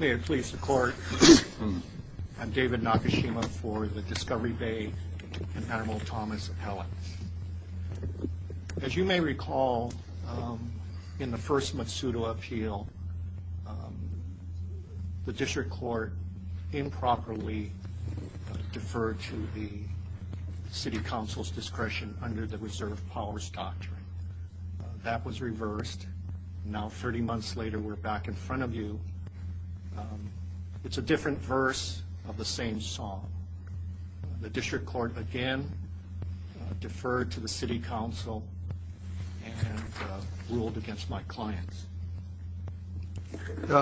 May it please the court. I'm David Nakashima for the Discovery Bay and Admiral Thomas Appellant. As you may recall in the first Matsudo appeal, the district court improperly deferred to the city council's discretion under the reserve powers doctrine. That was reversed. Now 30 months later we're back in front of you. It's a different verse of the same song. The district court again deferred to the city council and ruled against my clients.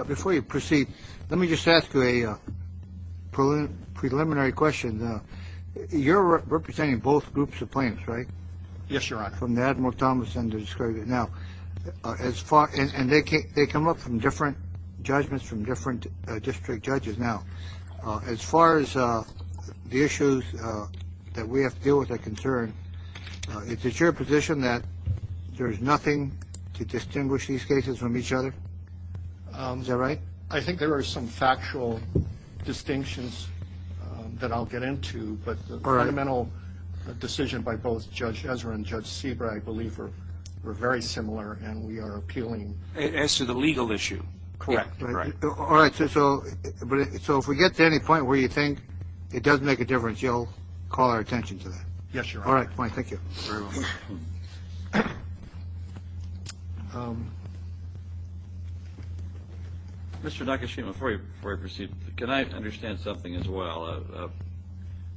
Before you proceed let me just ask you a preliminary question. You're representing both groups of claims right? Yes your honor. From the Admiral Thomas and the Discovery Bay. Now as far and they can't they come up from different judgments from different district judges. Now as far as the issues that we have to deal with that concern, is it your position that there's nothing to distinguish these cases from each other? Is that right? I think there are some factual distinctions that I'll get into but the fundamental decision by both Judge Ezra and Judge Seabright I believe are very similar and we are appealing. As to the legal issue? Correct. All right so if we get to any point where you think it doesn't make a difference you'll call our attention to that. Yes your honor. All right Mr. Nakashima before you proceed can I understand something as well?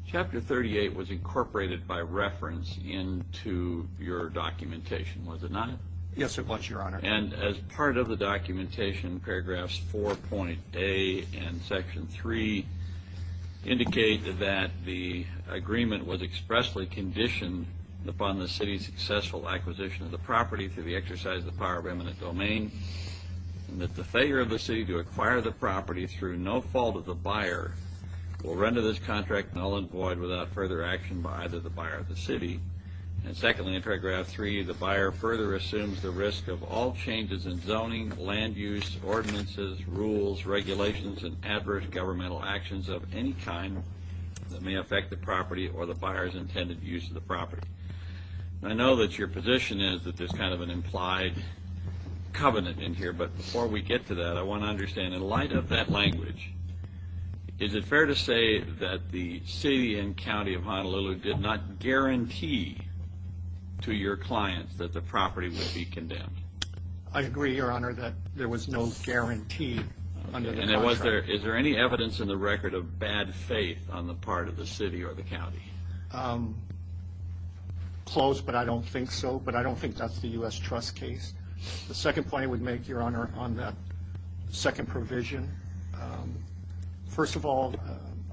Chapter 38 was incorporated by reference into your documentation was it not? Yes it was your honor. And as part of the documentation paragraphs 4.a and section 3 indicate that the agreement was expressly conditioned upon the city's successful acquisition of the property through the exercise of power of eminent domain and that the failure of the city to acquire the property through no fault of the buyer will render this contract null and void without further action by either the buyer of the city. And secondly in paragraph 3 the buyer further assumes the risk of all changes in zoning, land use, ordinances, rules, regulations, and adverse governmental actions of any kind that may affect the property or the buyer's intended use of the property. I know that your position is that there's kind of an implied covenant in here but before we get to that I want to understand in light of that language is it fair to say that the city and county of Honolulu did not guarantee to your clients that the property would be condemned? I agree your honor that there was no guarantee. And it was there is there any evidence in the closed but I don't think so but I don't think that's the U.S. trust case. The second point I would make your honor on that second provision. First of all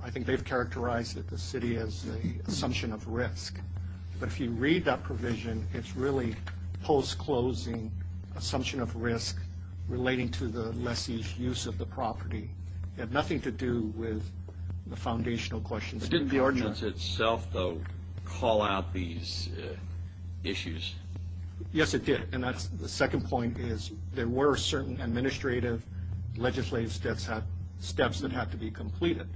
I think they've characterized that the city has the assumption of risk but if you read that provision it's really post-closing assumption of risk relating to the lessee's use of the property. It had nothing to do with the foundational questions. Didn't the ordinance itself though call out these issues? Yes it did and that's the second point is there were certain administrative legislative steps have steps that have to be completed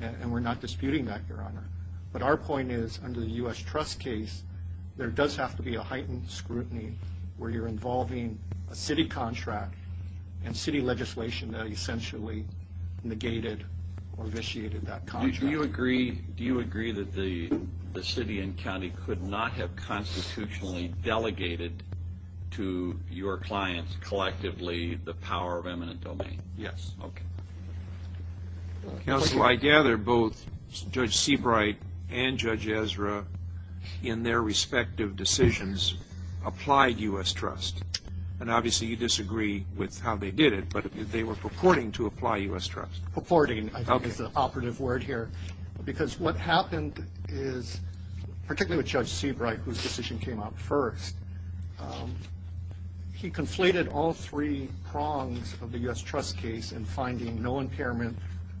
and we're not disputing that your honor but our point is under the U.S. trust case there does have to be a heightened scrutiny where you're involving a city contract and city legislation that essentially negated or initiated that contract. Do you agree do you agree that the city and county could not have constitutionally delegated to your clients collectively the power of eminent domain? Yes. Okay counsel I gather both Judge Seabright and Judge Ezra in their respective decisions applied U.S. trust and obviously you disagree with how they did it but they were purporting to apply U.S. trust. Purporting is the operative word here because what happened is particularly with Judge Seabright whose decision came out first he conflated all three prongs of the U.S. trust case in finding no impairment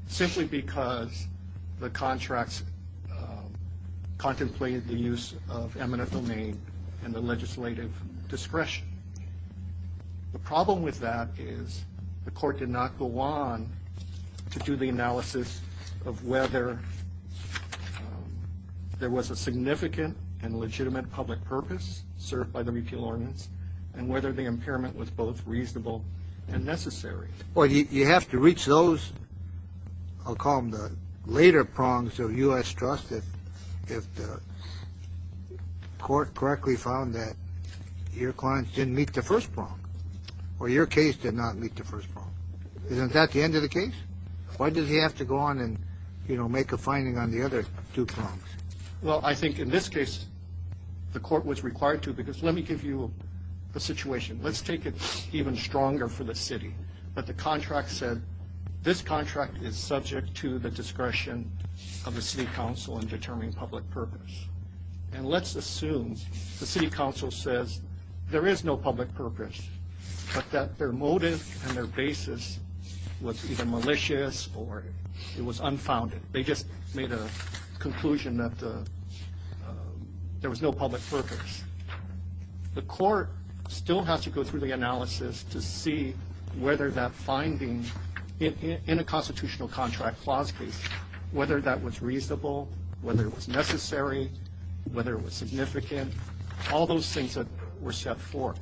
simply because the contracts contemplated the use of eminent domain and the legislative discretion. The problem with that is the court did not go on to do the analysis of whether there was a significant and legitimate public purpose served by the repeal ordinance and whether the impairment was both reasonable and necessary. Well you have to reach those I'll call them the later prongs of U.S. trust if the court correctly found that your clients didn't meet the first prong or your case did not meet the first prong. Isn't that the end of the case? Why does he have to go on and you know make a finding on the other two prongs? Well I think in this case the court was required to because let me give you the situation let's take it even stronger for the city that the contract said this contract is subject to the discretion of the city council in determining public purpose and let's assume the city council says there is no public purpose but that their motive and their basis was either malicious or it was unfounded they just made a conclusion that there was no public purpose. The court still has to go through the analysis to see whether that finding in a constitutional contract clause case whether that was reasonable whether it was necessary whether it was significant all those things that were set forth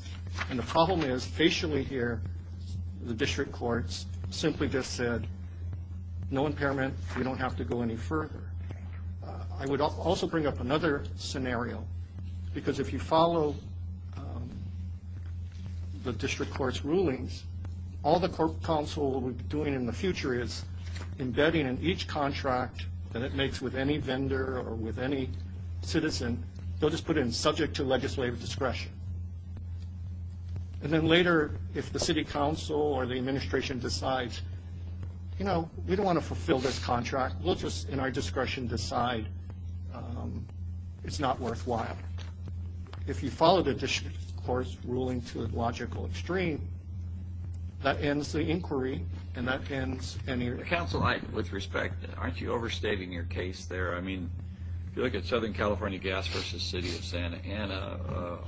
and the problem is facially here the district courts simply just said no impairment we don't have to go any further. I would also bring up another scenario because if you follow the district court's rulings all the court council will be doing in the future is embedding in each contract that it makes with any vendor or with any citizen they'll just put in subject to legislative discretion and then later if the city council or the administration decides you know we don't want to fulfill this contract we'll just in our worthwhile. If you follow the district court's ruling to a logical extreme that ends the inquiry and that ends any. Counsel I with respect aren't you overstating your case there I mean if you look at Southern California Gas versus City of Santa Ana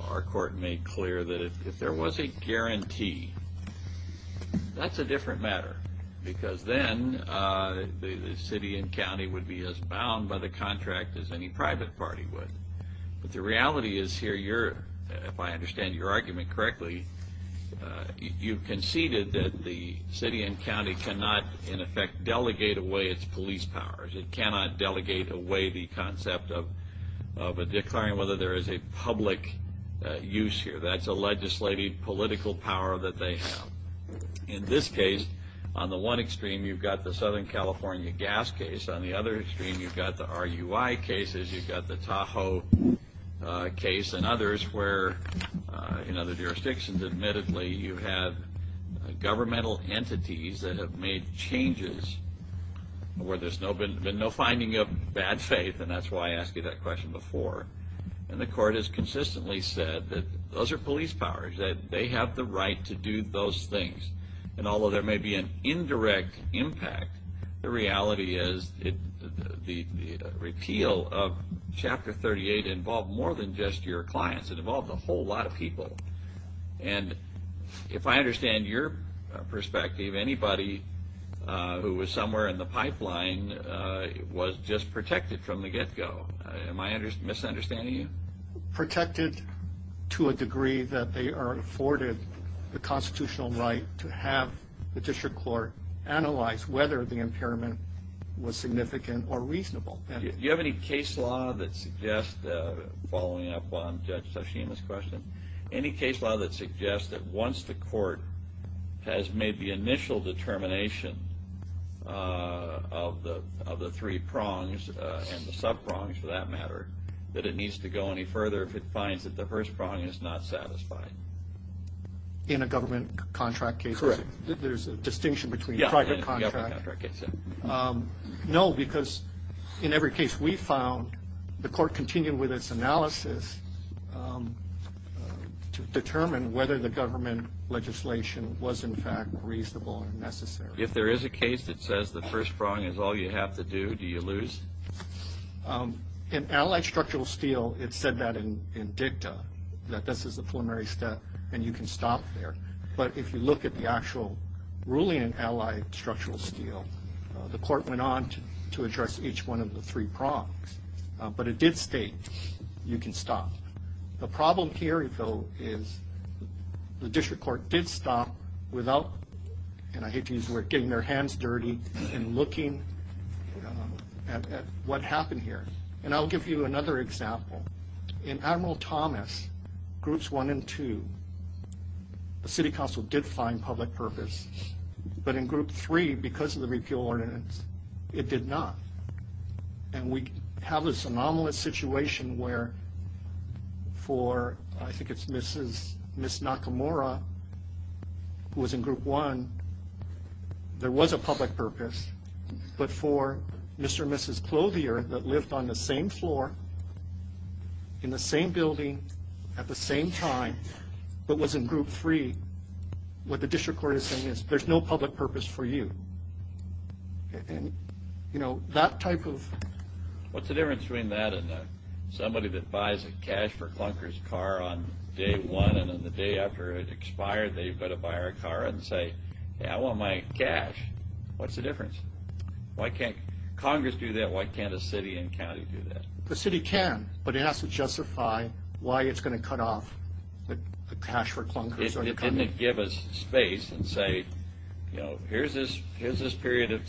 our court made clear that if there was a guarantee that's a different matter because then the city and county would be as bound by the contract as any private party would but the reality is here you're if I understand your argument correctly you conceded that the city and county cannot in effect delegate away its police powers it cannot delegate away the concept of a declaring whether there is a public use here that's a legislative political power that they have in this case on the one extreme you've got the Southern California Gas case on the other extreme you've got the RUI cases you've got the Tahoe case and others where in other jurisdictions admittedly you have governmental entities that have made changes where there's no been no finding of bad faith and that's why I asked you that question before and the court has consistently said that those are police powers that they have the right to do those things and although there may be an indirect impact the reality is it the repeal of chapter 38 involved more than just your clients it involved a whole lot of people and if I understand your perspective anybody who was somewhere in the pipeline was just protected from the get-go am I misunderstanding you protected to a degree that they are afforded the constitutional right to have the district court analyze whether the impairment was significant or reasonable do you have any case law that suggests uh following up on judge sashimi's question any case law that suggests that once the court has made the initial determination uh of the of the three prongs and the sub prongs for that matter that it needs to go any further if it finds that the first prong is not satisfied in a government contract case there's a distinction between private contract um no because in every case we found the court continued with its analysis um to determine whether the government legislation was in fact reasonable and necessary if there is a case that says the first prong is all you have to do do you lose um in allied structural steel it said that in dicta that this is a preliminary step and you can stop there but if you look at the actual ruling in allied structural steel the court went on to address each one of the three prongs but it did state you can stop the problem here though is the district court did stop without and I hate to use the word getting their hands dirty and looking at what happened here and I'll give you another example in admiral thomas groups one and two the city council did find public purpose but in group three because of the repeal ordinance it did not and we have this anomalous situation where for I think it's mrs miss nakamura who was in group one there was a public purpose but for mr and mrs clothier that lived on the same floor in the same building at the same time but was in group three what the district court is saying is there's no public purpose for you and you know that type of what's the difference between somebody that buys a cash for clunkers car on day one and then the day after it expired they've got to buy our car and say yeah I want my cash what's the difference why can't congress do that why can't a city and county do that the city can but it has to justify why it's going to cut off the cash for clunkers it didn't give us space and say you know here's this here's this period of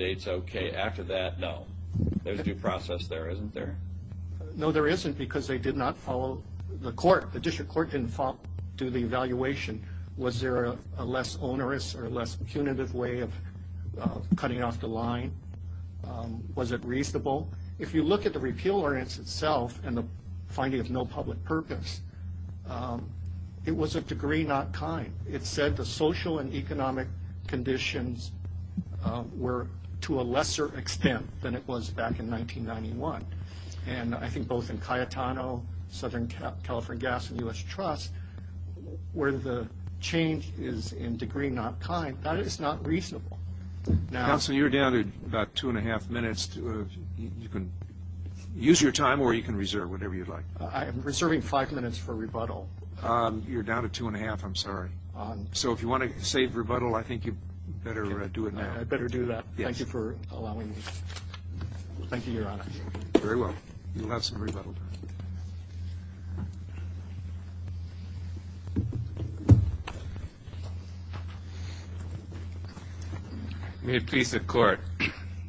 dates okay after that no there's due process there isn't there no there isn't because they did not follow the court the district court didn't do the evaluation was there a less onerous or less punitive way of cutting off the line was it reasonable if you look at the repeal ordinance itself and the finding of no public purpose it was a degree not kind it said the social and economic conditions were to a lesser extent than it was back in 1991 and I think both in Cayetano Southern California Gas and U.S. Trust where the change is in degree not kind that is not reasonable now so you're down to about two and a half minutes you can use your time or you can reserve whatever you'd like I am reserving five minutes for rebuttal um you're down to two and a half I'm sorry um so if you want to save rebuttal I think you better do it now I better do that thank you for allowing me thank you your honor very well you'll have some rebuttal may it please the court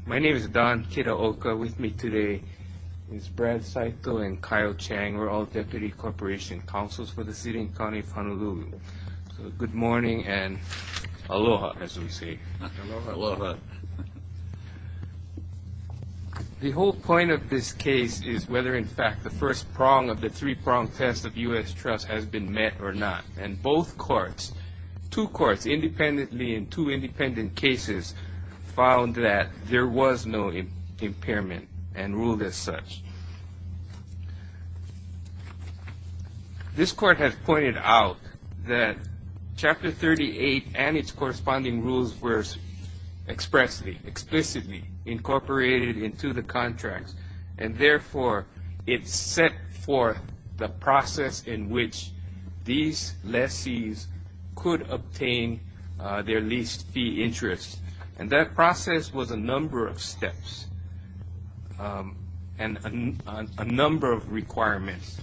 my name is Don Kitaoka with me today is Brad Saito and Kyle Chang we're the city and county of Honolulu so good morning and aloha as we say aloha the whole point of this case is whether in fact the first prong of the three-prong test of U.S. Trust has been met or not and both courts two courts independently in two independent cases found that there was no impairment and ruled as such this court has pointed out that chapter 38 and its corresponding rules were expressly explicitly incorporated into the contracts and therefore it's set for the process in which these lessees could obtain their leased fee interest and that process was a number of steps um and a number of requirements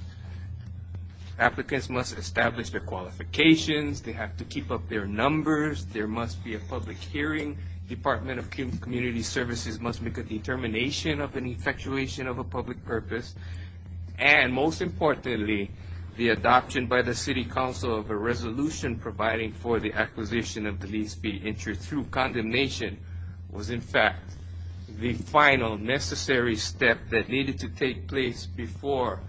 applicants must establish their qualifications they have to keep up their numbers there must be a public hearing department of community services must make a determination of an effectuation of a public purpose and most importantly the adoption by the city council of a resolution providing for the acquisition of the lease fee interest through condemnation was in fact the final necessary step that needed to take place before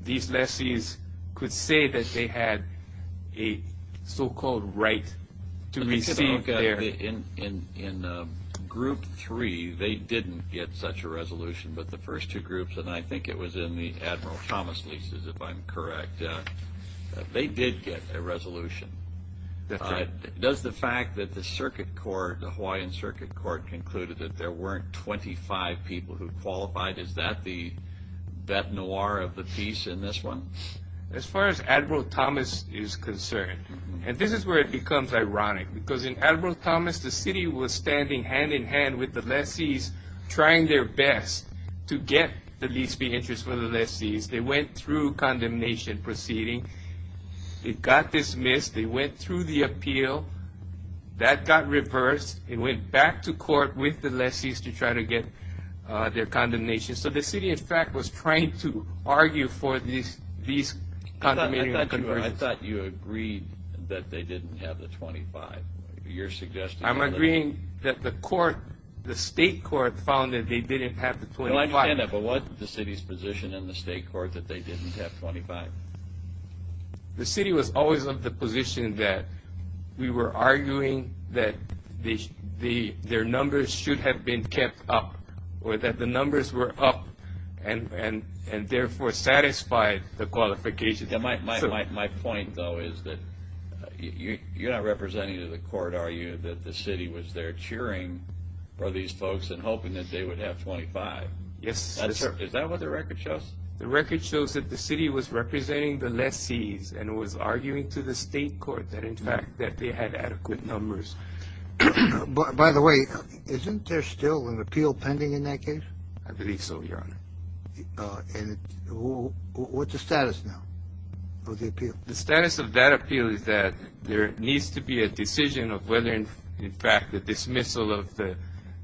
these lessees could say that they had a so-called right to receive their in in in group three they didn't get such a resolution but the first two groups and i think it was in the admiral thomas leases if i'm correct they did get a resolution does the fact that the circuit court the hawaiian circuit court concluded that there weren't 25 people who qualified is that the that noir of the piece in this one as far as admiral thomas is concerned and this is where it becomes ironic because in admiral thomas the city was standing hand in hand with the lessees trying their best to get the condemnation proceeding it got dismissed they went through the appeal that got reversed it went back to court with the lessees to try to get uh their condemnation so the city in fact was trying to argue for these these i thought you agreed that they didn't have the 25 you're suggesting i'm agreeing that the court the state court found that they didn't have the 25 but what the city's in the state court that they didn't have 25 the city was always of the position that we were arguing that the the their numbers should have been kept up or that the numbers were up and and and therefore satisfied the qualification that my my point though is that you're not representing to the court are you that the city was there cheering for these folks and hoping that they would have 25 yes is that what the record shows the record shows that the city was representing the lessees and was arguing to the state court that in fact that they had adequate numbers but by the way isn't there still an appeal pending in that case i believe so your honor uh and what's the status now of the appeal the status of that appeal is there needs to be a decision of whether in fact the dismissal of the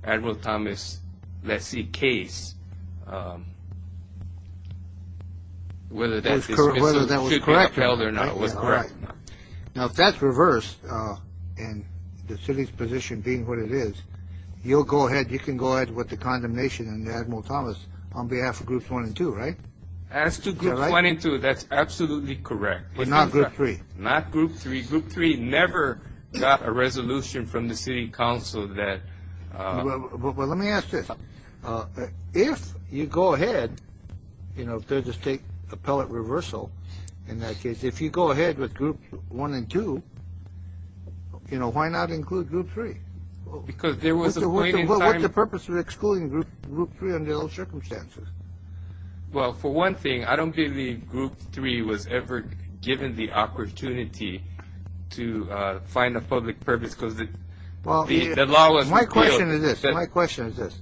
admiral thomas lessee case whether that's correct whether that was correct or not was correct now if that's reversed uh and the city's position being what it is you'll go ahead you can go ahead with the condemnation and the admiral thomas on behalf of groups one and two right as to group one and two that's absolutely correct but not group three not group three group three never got a resolution from the city council that well let me ask this uh if you go ahead you know if there's a state appellate reversal in that case if you go ahead with group one and two you know why not include group three because there was a what's the purpose of excluding group group three under those circumstances well for one thing i don't believe group three was ever given the opportunity to uh find a public purpose because the law was my question is this my question is this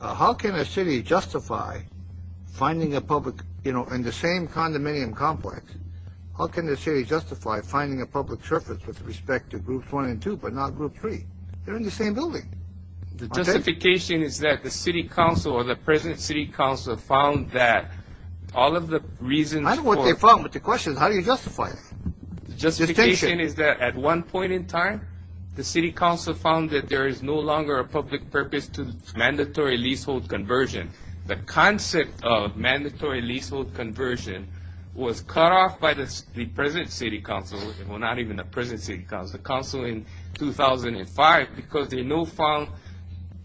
how can a city justify finding a public you know in the same condominium complex how can the city justify finding a public surface with respect to groups one and two but not group three they're in the same building the justification is that the city council or the present city council found that all of the reasons i don't know what they found but the question is how do you justify it justification is that at one point in time the city council found that there is no longer a public purpose to mandatory leasehold conversion the concept of mandatory leasehold conversion was cut off by the present city council well not even the present city council in 2005 because they no found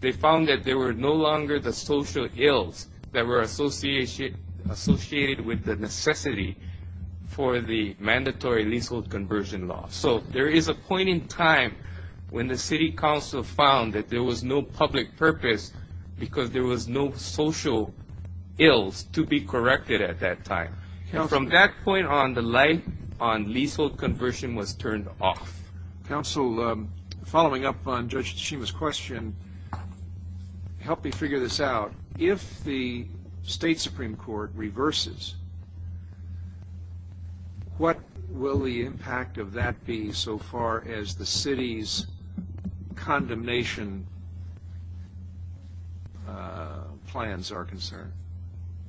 they found that there were no longer the social ills that were associated associated with the necessity for the mandatory leasehold conversion law so there is a point in time when the city council found that there was no public purpose because there was no social ills to be corrected at that time and from that point on the light on leasehold conversion was turned off council um following up on judge shima's question help me figure this out if the state supreme court reverses what will the impact of that be so far as the city's condemnation uh plans are concerned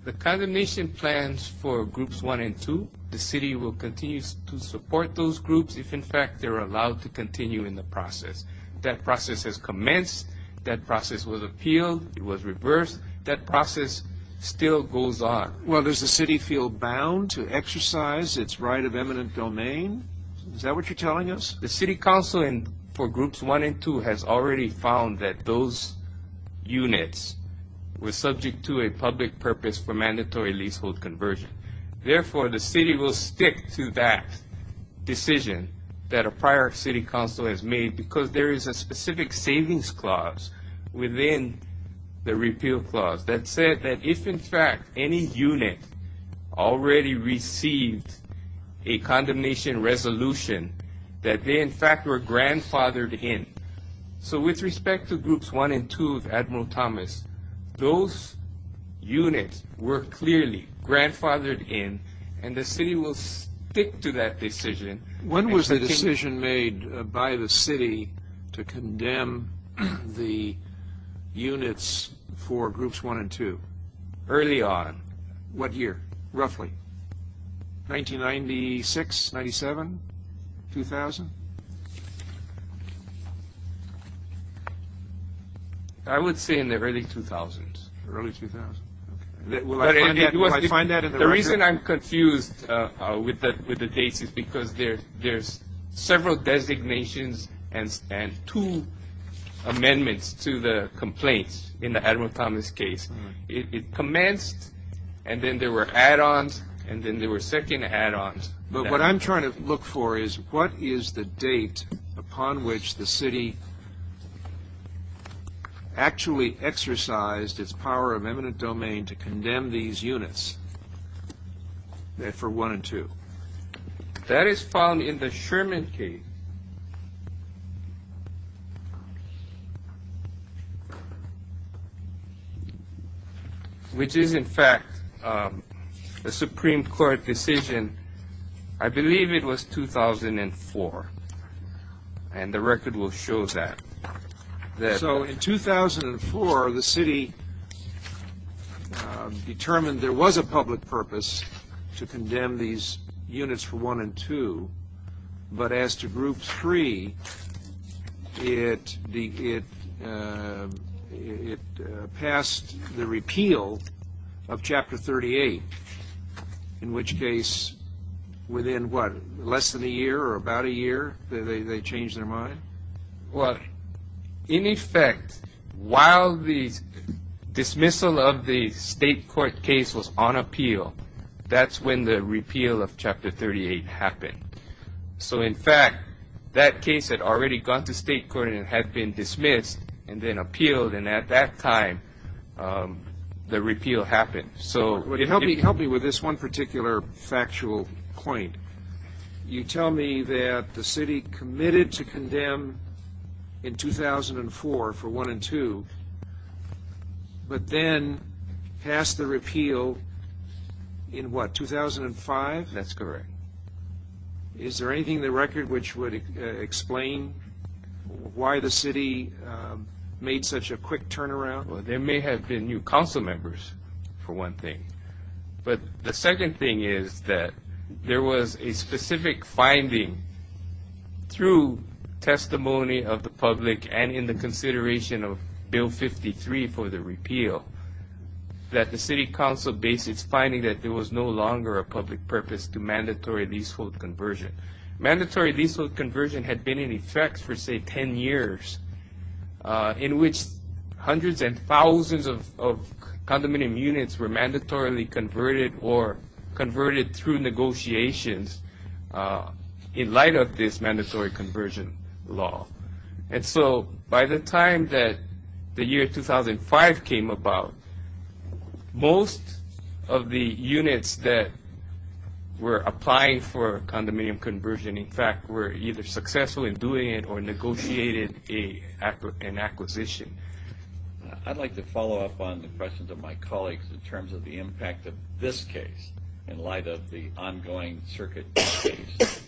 the condemnation plans for groups one and two the city will continue to support those groups if in fact they're allowed to continue in the process that process has commenced that process was appealed it was reversed that process still goes on well does the city feel bound to exercise its right of eminent domain is that what you're telling us the city council for groups one and two has already found that those units were subject to a public purpose for mandatory leasehold conversion therefore the city will stick to that decision that a prior city council has made because there is a specific savings clause within the repeal clause that said that if in fact any unit already received a condemnation resolution that they in fact were grandfathered in so with respect to groups one and two of admiral thomas those units were clearly grandfathered in and the city will stick to that decision when was the decision made by the city to condemn the units for groups one and two early on what year roughly 1996 97 2000 i would say in the early 2000s early 2000s the reason i'm confused uh with that with the dates is because there there's several designations and and two amendments to the complaints in the admiral thomas case it commenced and then there were add-ons and then there were second add-ons but what i'm trying to look for is what is the date upon which the city actually exercised its power of eminent domain to condemn these units therefore one and two that is found in the sherman case which is in fact a supreme court decision i believe it was 2004 and the record will show that so in 2004 the city determined there was a public purpose to condemn these units for one and two but as to group three it the it uh it passed the repeal of chapter 38 in which case within what less than a year or about a year they they changed their mind well in effect while the dismissal of the state court case was on appeal that's when the repeal of chapter 38 happened so in fact that case had already gone to state court and had been dismissed and then appealed and at that time um the repeal happened so it helped me help me with this one particular factual point you tell me that the city committed to condemn in 2004 for one and two but then passed the repeal in what 2005 that's correct is there anything the record which would explain why the city made such a quick turnaround well there may have been new council members for one thing but the second thing is that there was a specific finding through testimony of the public and in the consideration of bill 53 for the repeal that the city council base its finding that there was no longer a public purpose to mandatory leasehold conversion mandatory leasehold conversion had been in effect for say 10 years uh in which hundreds and thousands of condominium units were mandatorily converted or converted through negotiations in light of this mandatory conversion law and so by the time that the year 2005 came about most of the units that were applying for condominium conversion in fact were either successful in doing it or negotiated a an acquisition i'd like to follow up on the questions of my colleagues in terms of the impact of this case in light of the ongoing circuit case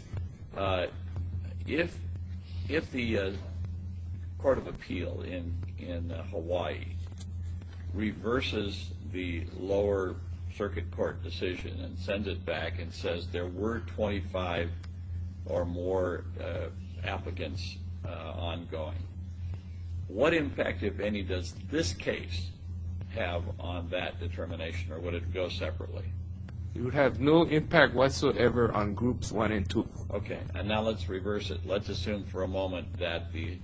if if the court of appeal in in hawaii reverses the lower circuit court decision and sends it and says there were 25 or more uh applicants uh ongoing what impact if any does this case have on that determination or would it go separately it would have no impact whatsoever on groups one and two okay and now let's reverse it let's assume for a moment that the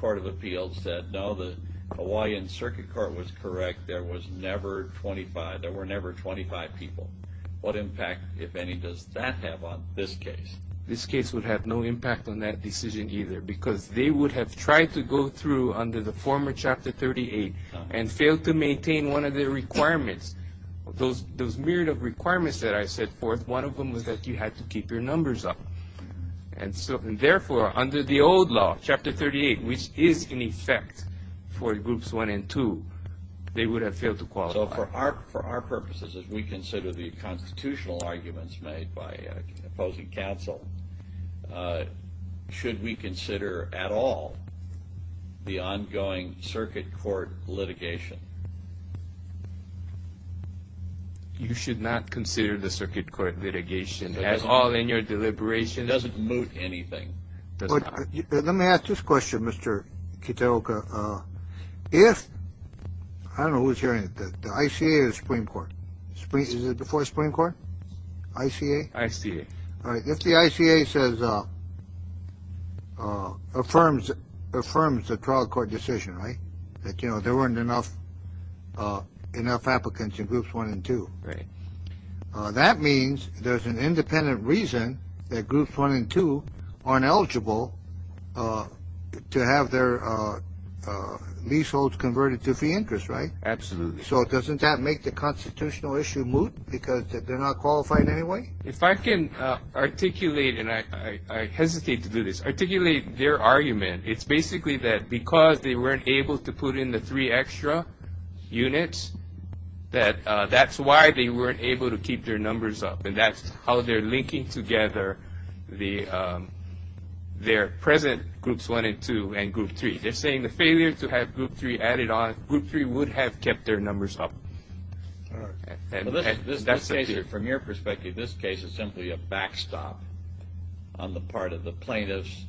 court of appeal said no the hawaiian circuit court was correct there was never 25 there were never 25 people what impact if any does that have on this case this case would have no impact on that decision either because they would have tried to go through under the former chapter 38 and failed to maintain one of their requirements those those myriad of requirements that i set forth one of them was that you had to keep your numbers up and so therefore under the old law chapter 38 which is for groups one and two they would have failed to qualify for our for our purposes as we consider the constitutional arguments made by opposing counsel uh should we consider at all the ongoing circuit court litigation you should not consider the circuit court litigation as all in your deliberation doesn't move anything let me ask this question mr kitoka uh if i don't know who's hearing that the ica is supreme court spree is it before supreme court ica ica all right if the ica says uh uh affirms affirms the trial court decision right that you know there weren't enough uh there's an independent reason that groups one and two aren't eligible uh to have their uh uh leaseholds converted to fee interest right absolutely so doesn't that make the constitutional issue moot because they're not qualified anyway if i can uh articulate and i i i hesitate to do this articulate their argument it's basically that because they weren't able to put in the three extra units that uh that's why they weren't able to keep their numbers up and that's how they're linking together the um their present groups one and two and group three they're saying the failure to have group three added on group three would have kept their numbers up all right from your perspective this case is simply a backstop on the part of the plaintiffs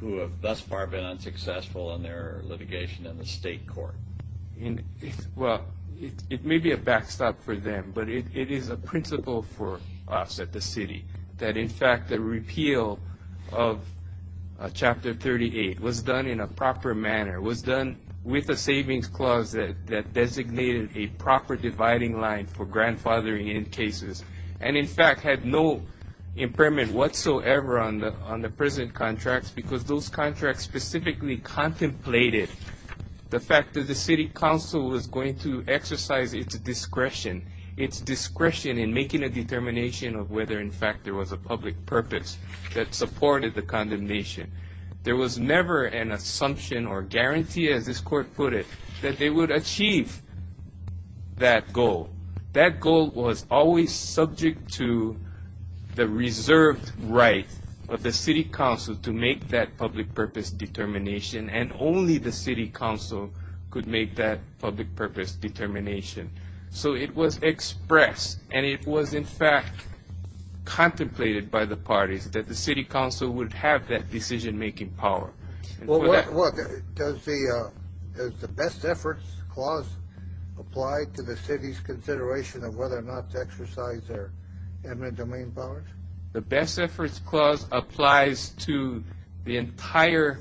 who have thus far been unsuccessful in their litigation in the state court well it may be a backstop for them but it it is a principle for us at the city that in fact the repeal of chapter 38 was done in a proper manner was done with a savings clause that that designated a proper dividing line for grandfathering in cases and in fact had no impairment whatsoever on the on the present contracts because those contracts specifically contemplated the fact that the city council was going to exercise its discretion its discretion in making a determination of whether in fact there was a public purpose that supported the condemnation there was never an assumption or guarantee as this court put it that they would achieve that goal that goal was always subject to the reserved right of the city council to make that public purpose determination and only the city council could make that public purpose determination so it was expressed and it was in fact contemplated by the parties that the city council would have that decision-making power well what does the uh does the best efforts clause apply to the city's consideration of whether or not to exercise their admin domain powers the best efforts clause applies to the entire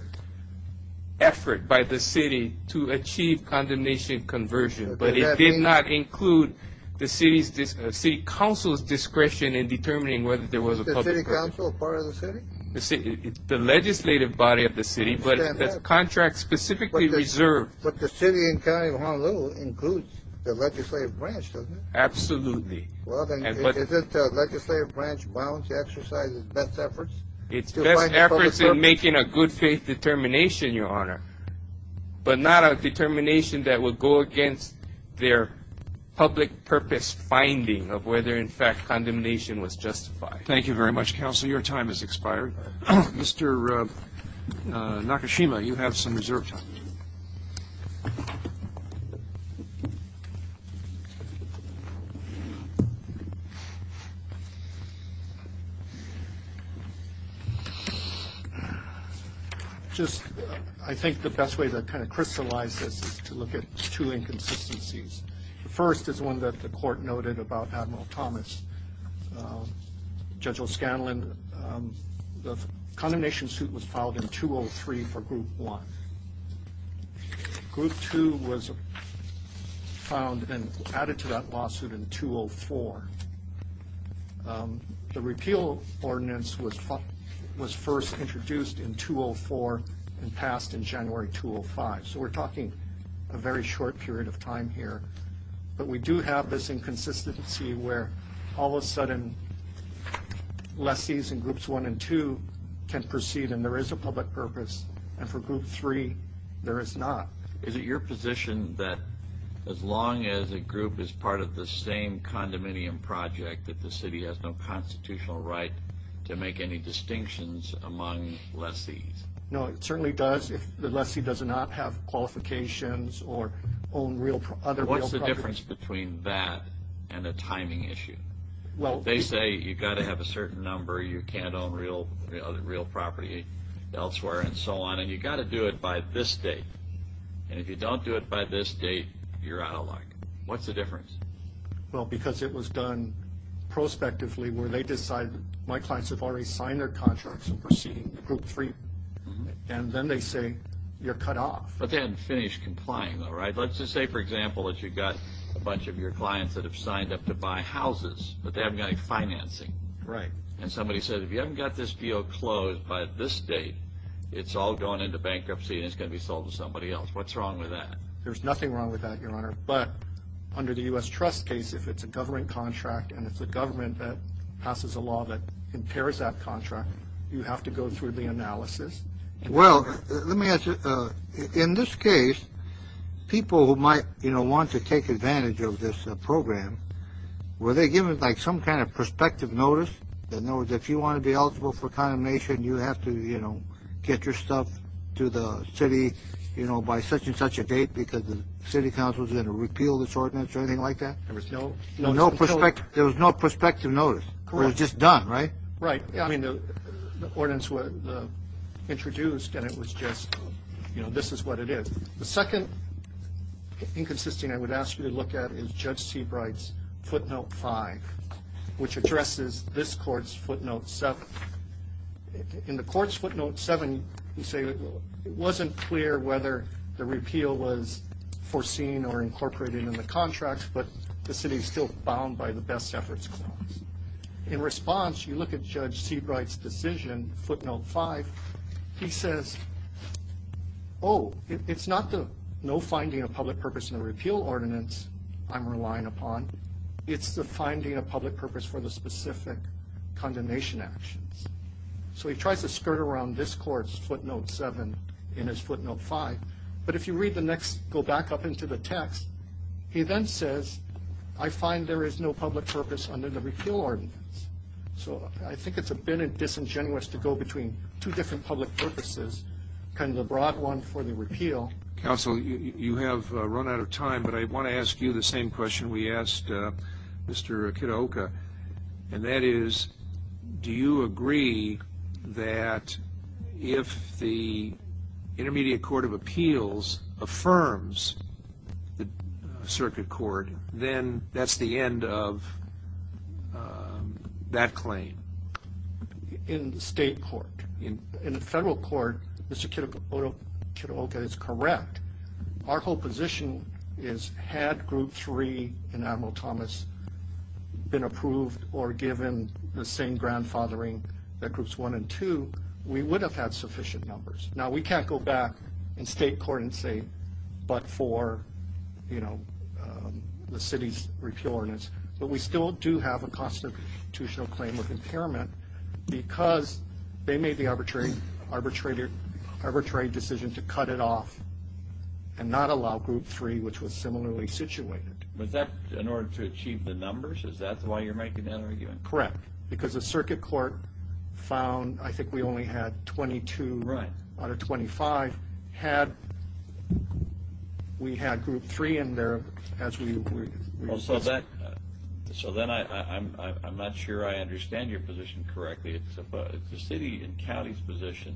effort by the city to achieve condemnation conversion but it did not include the city's city council's discretion in determining whether there was a city council part of the city the city the legislative body of the city but the contract specifically reserved but the city and county of honolulu includes the legislative branch doesn't absolutely well then is it the legislative branch bounds exercises best efforts it's best efforts in making a good faith determination your honor but not a determination that would go against their public purpose finding of whether in fact condemnation was justified thank you very much counsel your time has expired mr uh nakashima you have some reserve time so just i think the best way to kind of crystallize this is to look at two inconsistencies the first is one that the court noted about admiral thomas judge o'scanlon the condemnation suit was filed in 203 for group one group two was found and added to that lawsuit in 204 the repeal ordinance was was first introduced in 204 and passed in january 205 so we're talking a very short period of time here but we do have this inconsistency where all of a sudden lessees in groups one and two can proceed and there is a public purpose and for group three there is not is it your position that as long as a group is part of the same condominium project that the city has no constitutional right to make any distinctions among lessees no it certainly does if the lessee does not have qualifications or own real other what's the difference between that and a timing issue well they say you've got to have a certain number you can't own real real property elsewhere and so on and you got to do it by this date and if you don't do it by this date you're out of luck what's the difference well because it was done prospectively where they decide my clients have already signed their contracts and proceeding group three and then they say you're cut off but they haven't finished complying though right let's just say for example that you've got a bunch of your clients that have signed up to somebody said if you haven't got this deal closed by this date it's all gone into bankruptcy and it's going to be sold to somebody else what's wrong with that there's nothing wrong with that your honor but under the u.s trust case if it's a government contract and it's a government that passes a law that impairs that contract you have to go through the analysis well let me ask you in this case people who might you know want to take advantage of this program were they given like some kind of prospective notice in other words if you want to be eligible for condemnation you have to you know get your stuff to the city you know by such and such a date because the city council is going to repeal this ordinance or anything like that there was no no no prospect there was no prospective notice it was just done right right i mean the ordinance was introduced and it was just you know this is what it is the second inconsistent i would ask you to note 5 which addresses this court's footnote 7 in the court's footnote 7 you say it wasn't clear whether the repeal was foreseen or incorporated in the contract but the city is still bound by the best efforts clause in response you look at judge seabright's decision footnote 5 he says oh it's not the no finding of public purpose in the repeal ordinance i'm relying upon it's the finding of public purpose for the specific condemnation actions so he tries to skirt around this court's footnote 7 in his footnote 5 but if you read the next go back up into the text he then says i find there is no public purpose under the repeal ordinance so i think it's a bit disingenuous to go between two different public purposes kind of the broad one for the repeal council you you have run out of time but i want to ask you the same question we asked uh mr kiddoka and that is do you agree that if the intermediate court of appeals affirms the circuit court then that's the end of that claim in the state court in the federal court mr kiddoka is correct our whole position is had group three enamel thomas been approved or given the same grandfathering that groups one and two we would have had sufficient numbers now we can't go back in state court and say but for you know the city's repeal ordinance but we still do have a constitutional claim of impairment because they made the arbitrary arbitrated arbitrary decision to cut it off and not allow group three which was similarly situated was that in order to achieve the numbers is that why you're making that argument correct because the circuit court found i think we only had 22 right out of 25 had we had group three in there as we were so that so then i'm i'm not sure i understand your position correctly it's about it's the city and county's position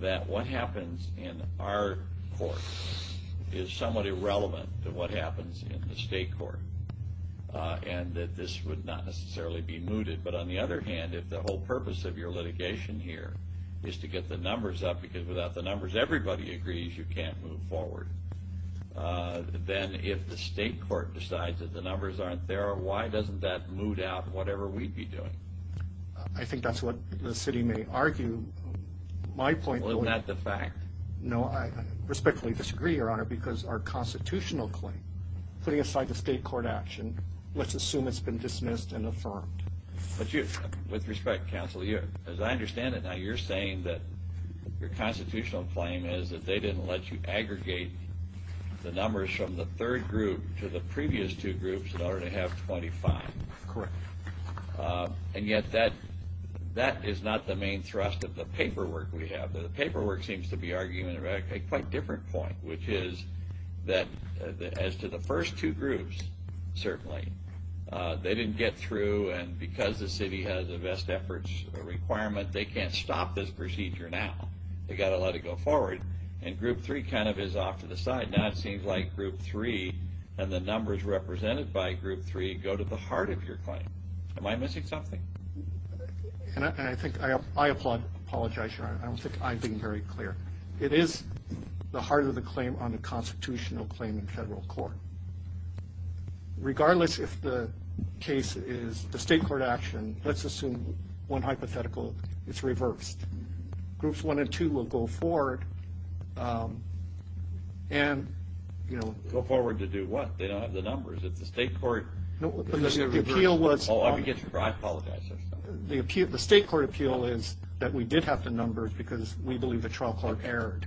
that what happens in our court is somewhat irrelevant to what happens in the state court and that this would not necessarily be mooted but on the other hand if the whole purpose of your litigation here is to get the numbers up because without the numbers everybody agrees you can't move forward uh then if the state court decides that the numbers aren't there why doesn't that moot out whatever we'd be doing i think that's what the city may argue my point well is that the fact no i respectfully disagree your honor because our constitutional claim putting aside the state court action let's assume it's been dismissed and affirmed but you with respect counsel here as i understand it now you're saying that your constitutional claim is that they didn't let you aggregate the numbers from the third group to the previous two groups in order to have 25 correct and yet that that is not the main thrust of the paperwork we have that the paperwork seems to be arguing about a quite different point which is that as to the first two groups certainly they didn't get through and because the city has the best efforts requirement they can't stop this procedure now they got to let it go forward and group three kind of is off to the side now it seems like group three and the numbers represented by group three go to the heart of your claim am i missing something and i think i applaud apologize your honor i don't think i've been very clear it is the heart of the claim on the constitutional claim in federal court regardless if the case is the state court action let's assume one hypothetical it's reversed groups one and two will go forward and you know go forward to do what they don't have the numbers it's the state court the appeal the state court appeal is that we did have the numbers because we believe the trial court erred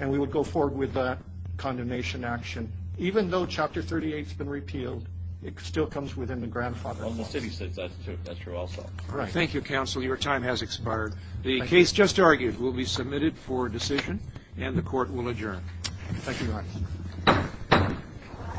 and we would go forward with the condemnation action even though chapter 38 has been repealed it still comes within the grandfather on the city says that's true that's expired the case just argued will be submitted for decision and the court will adjourn thank you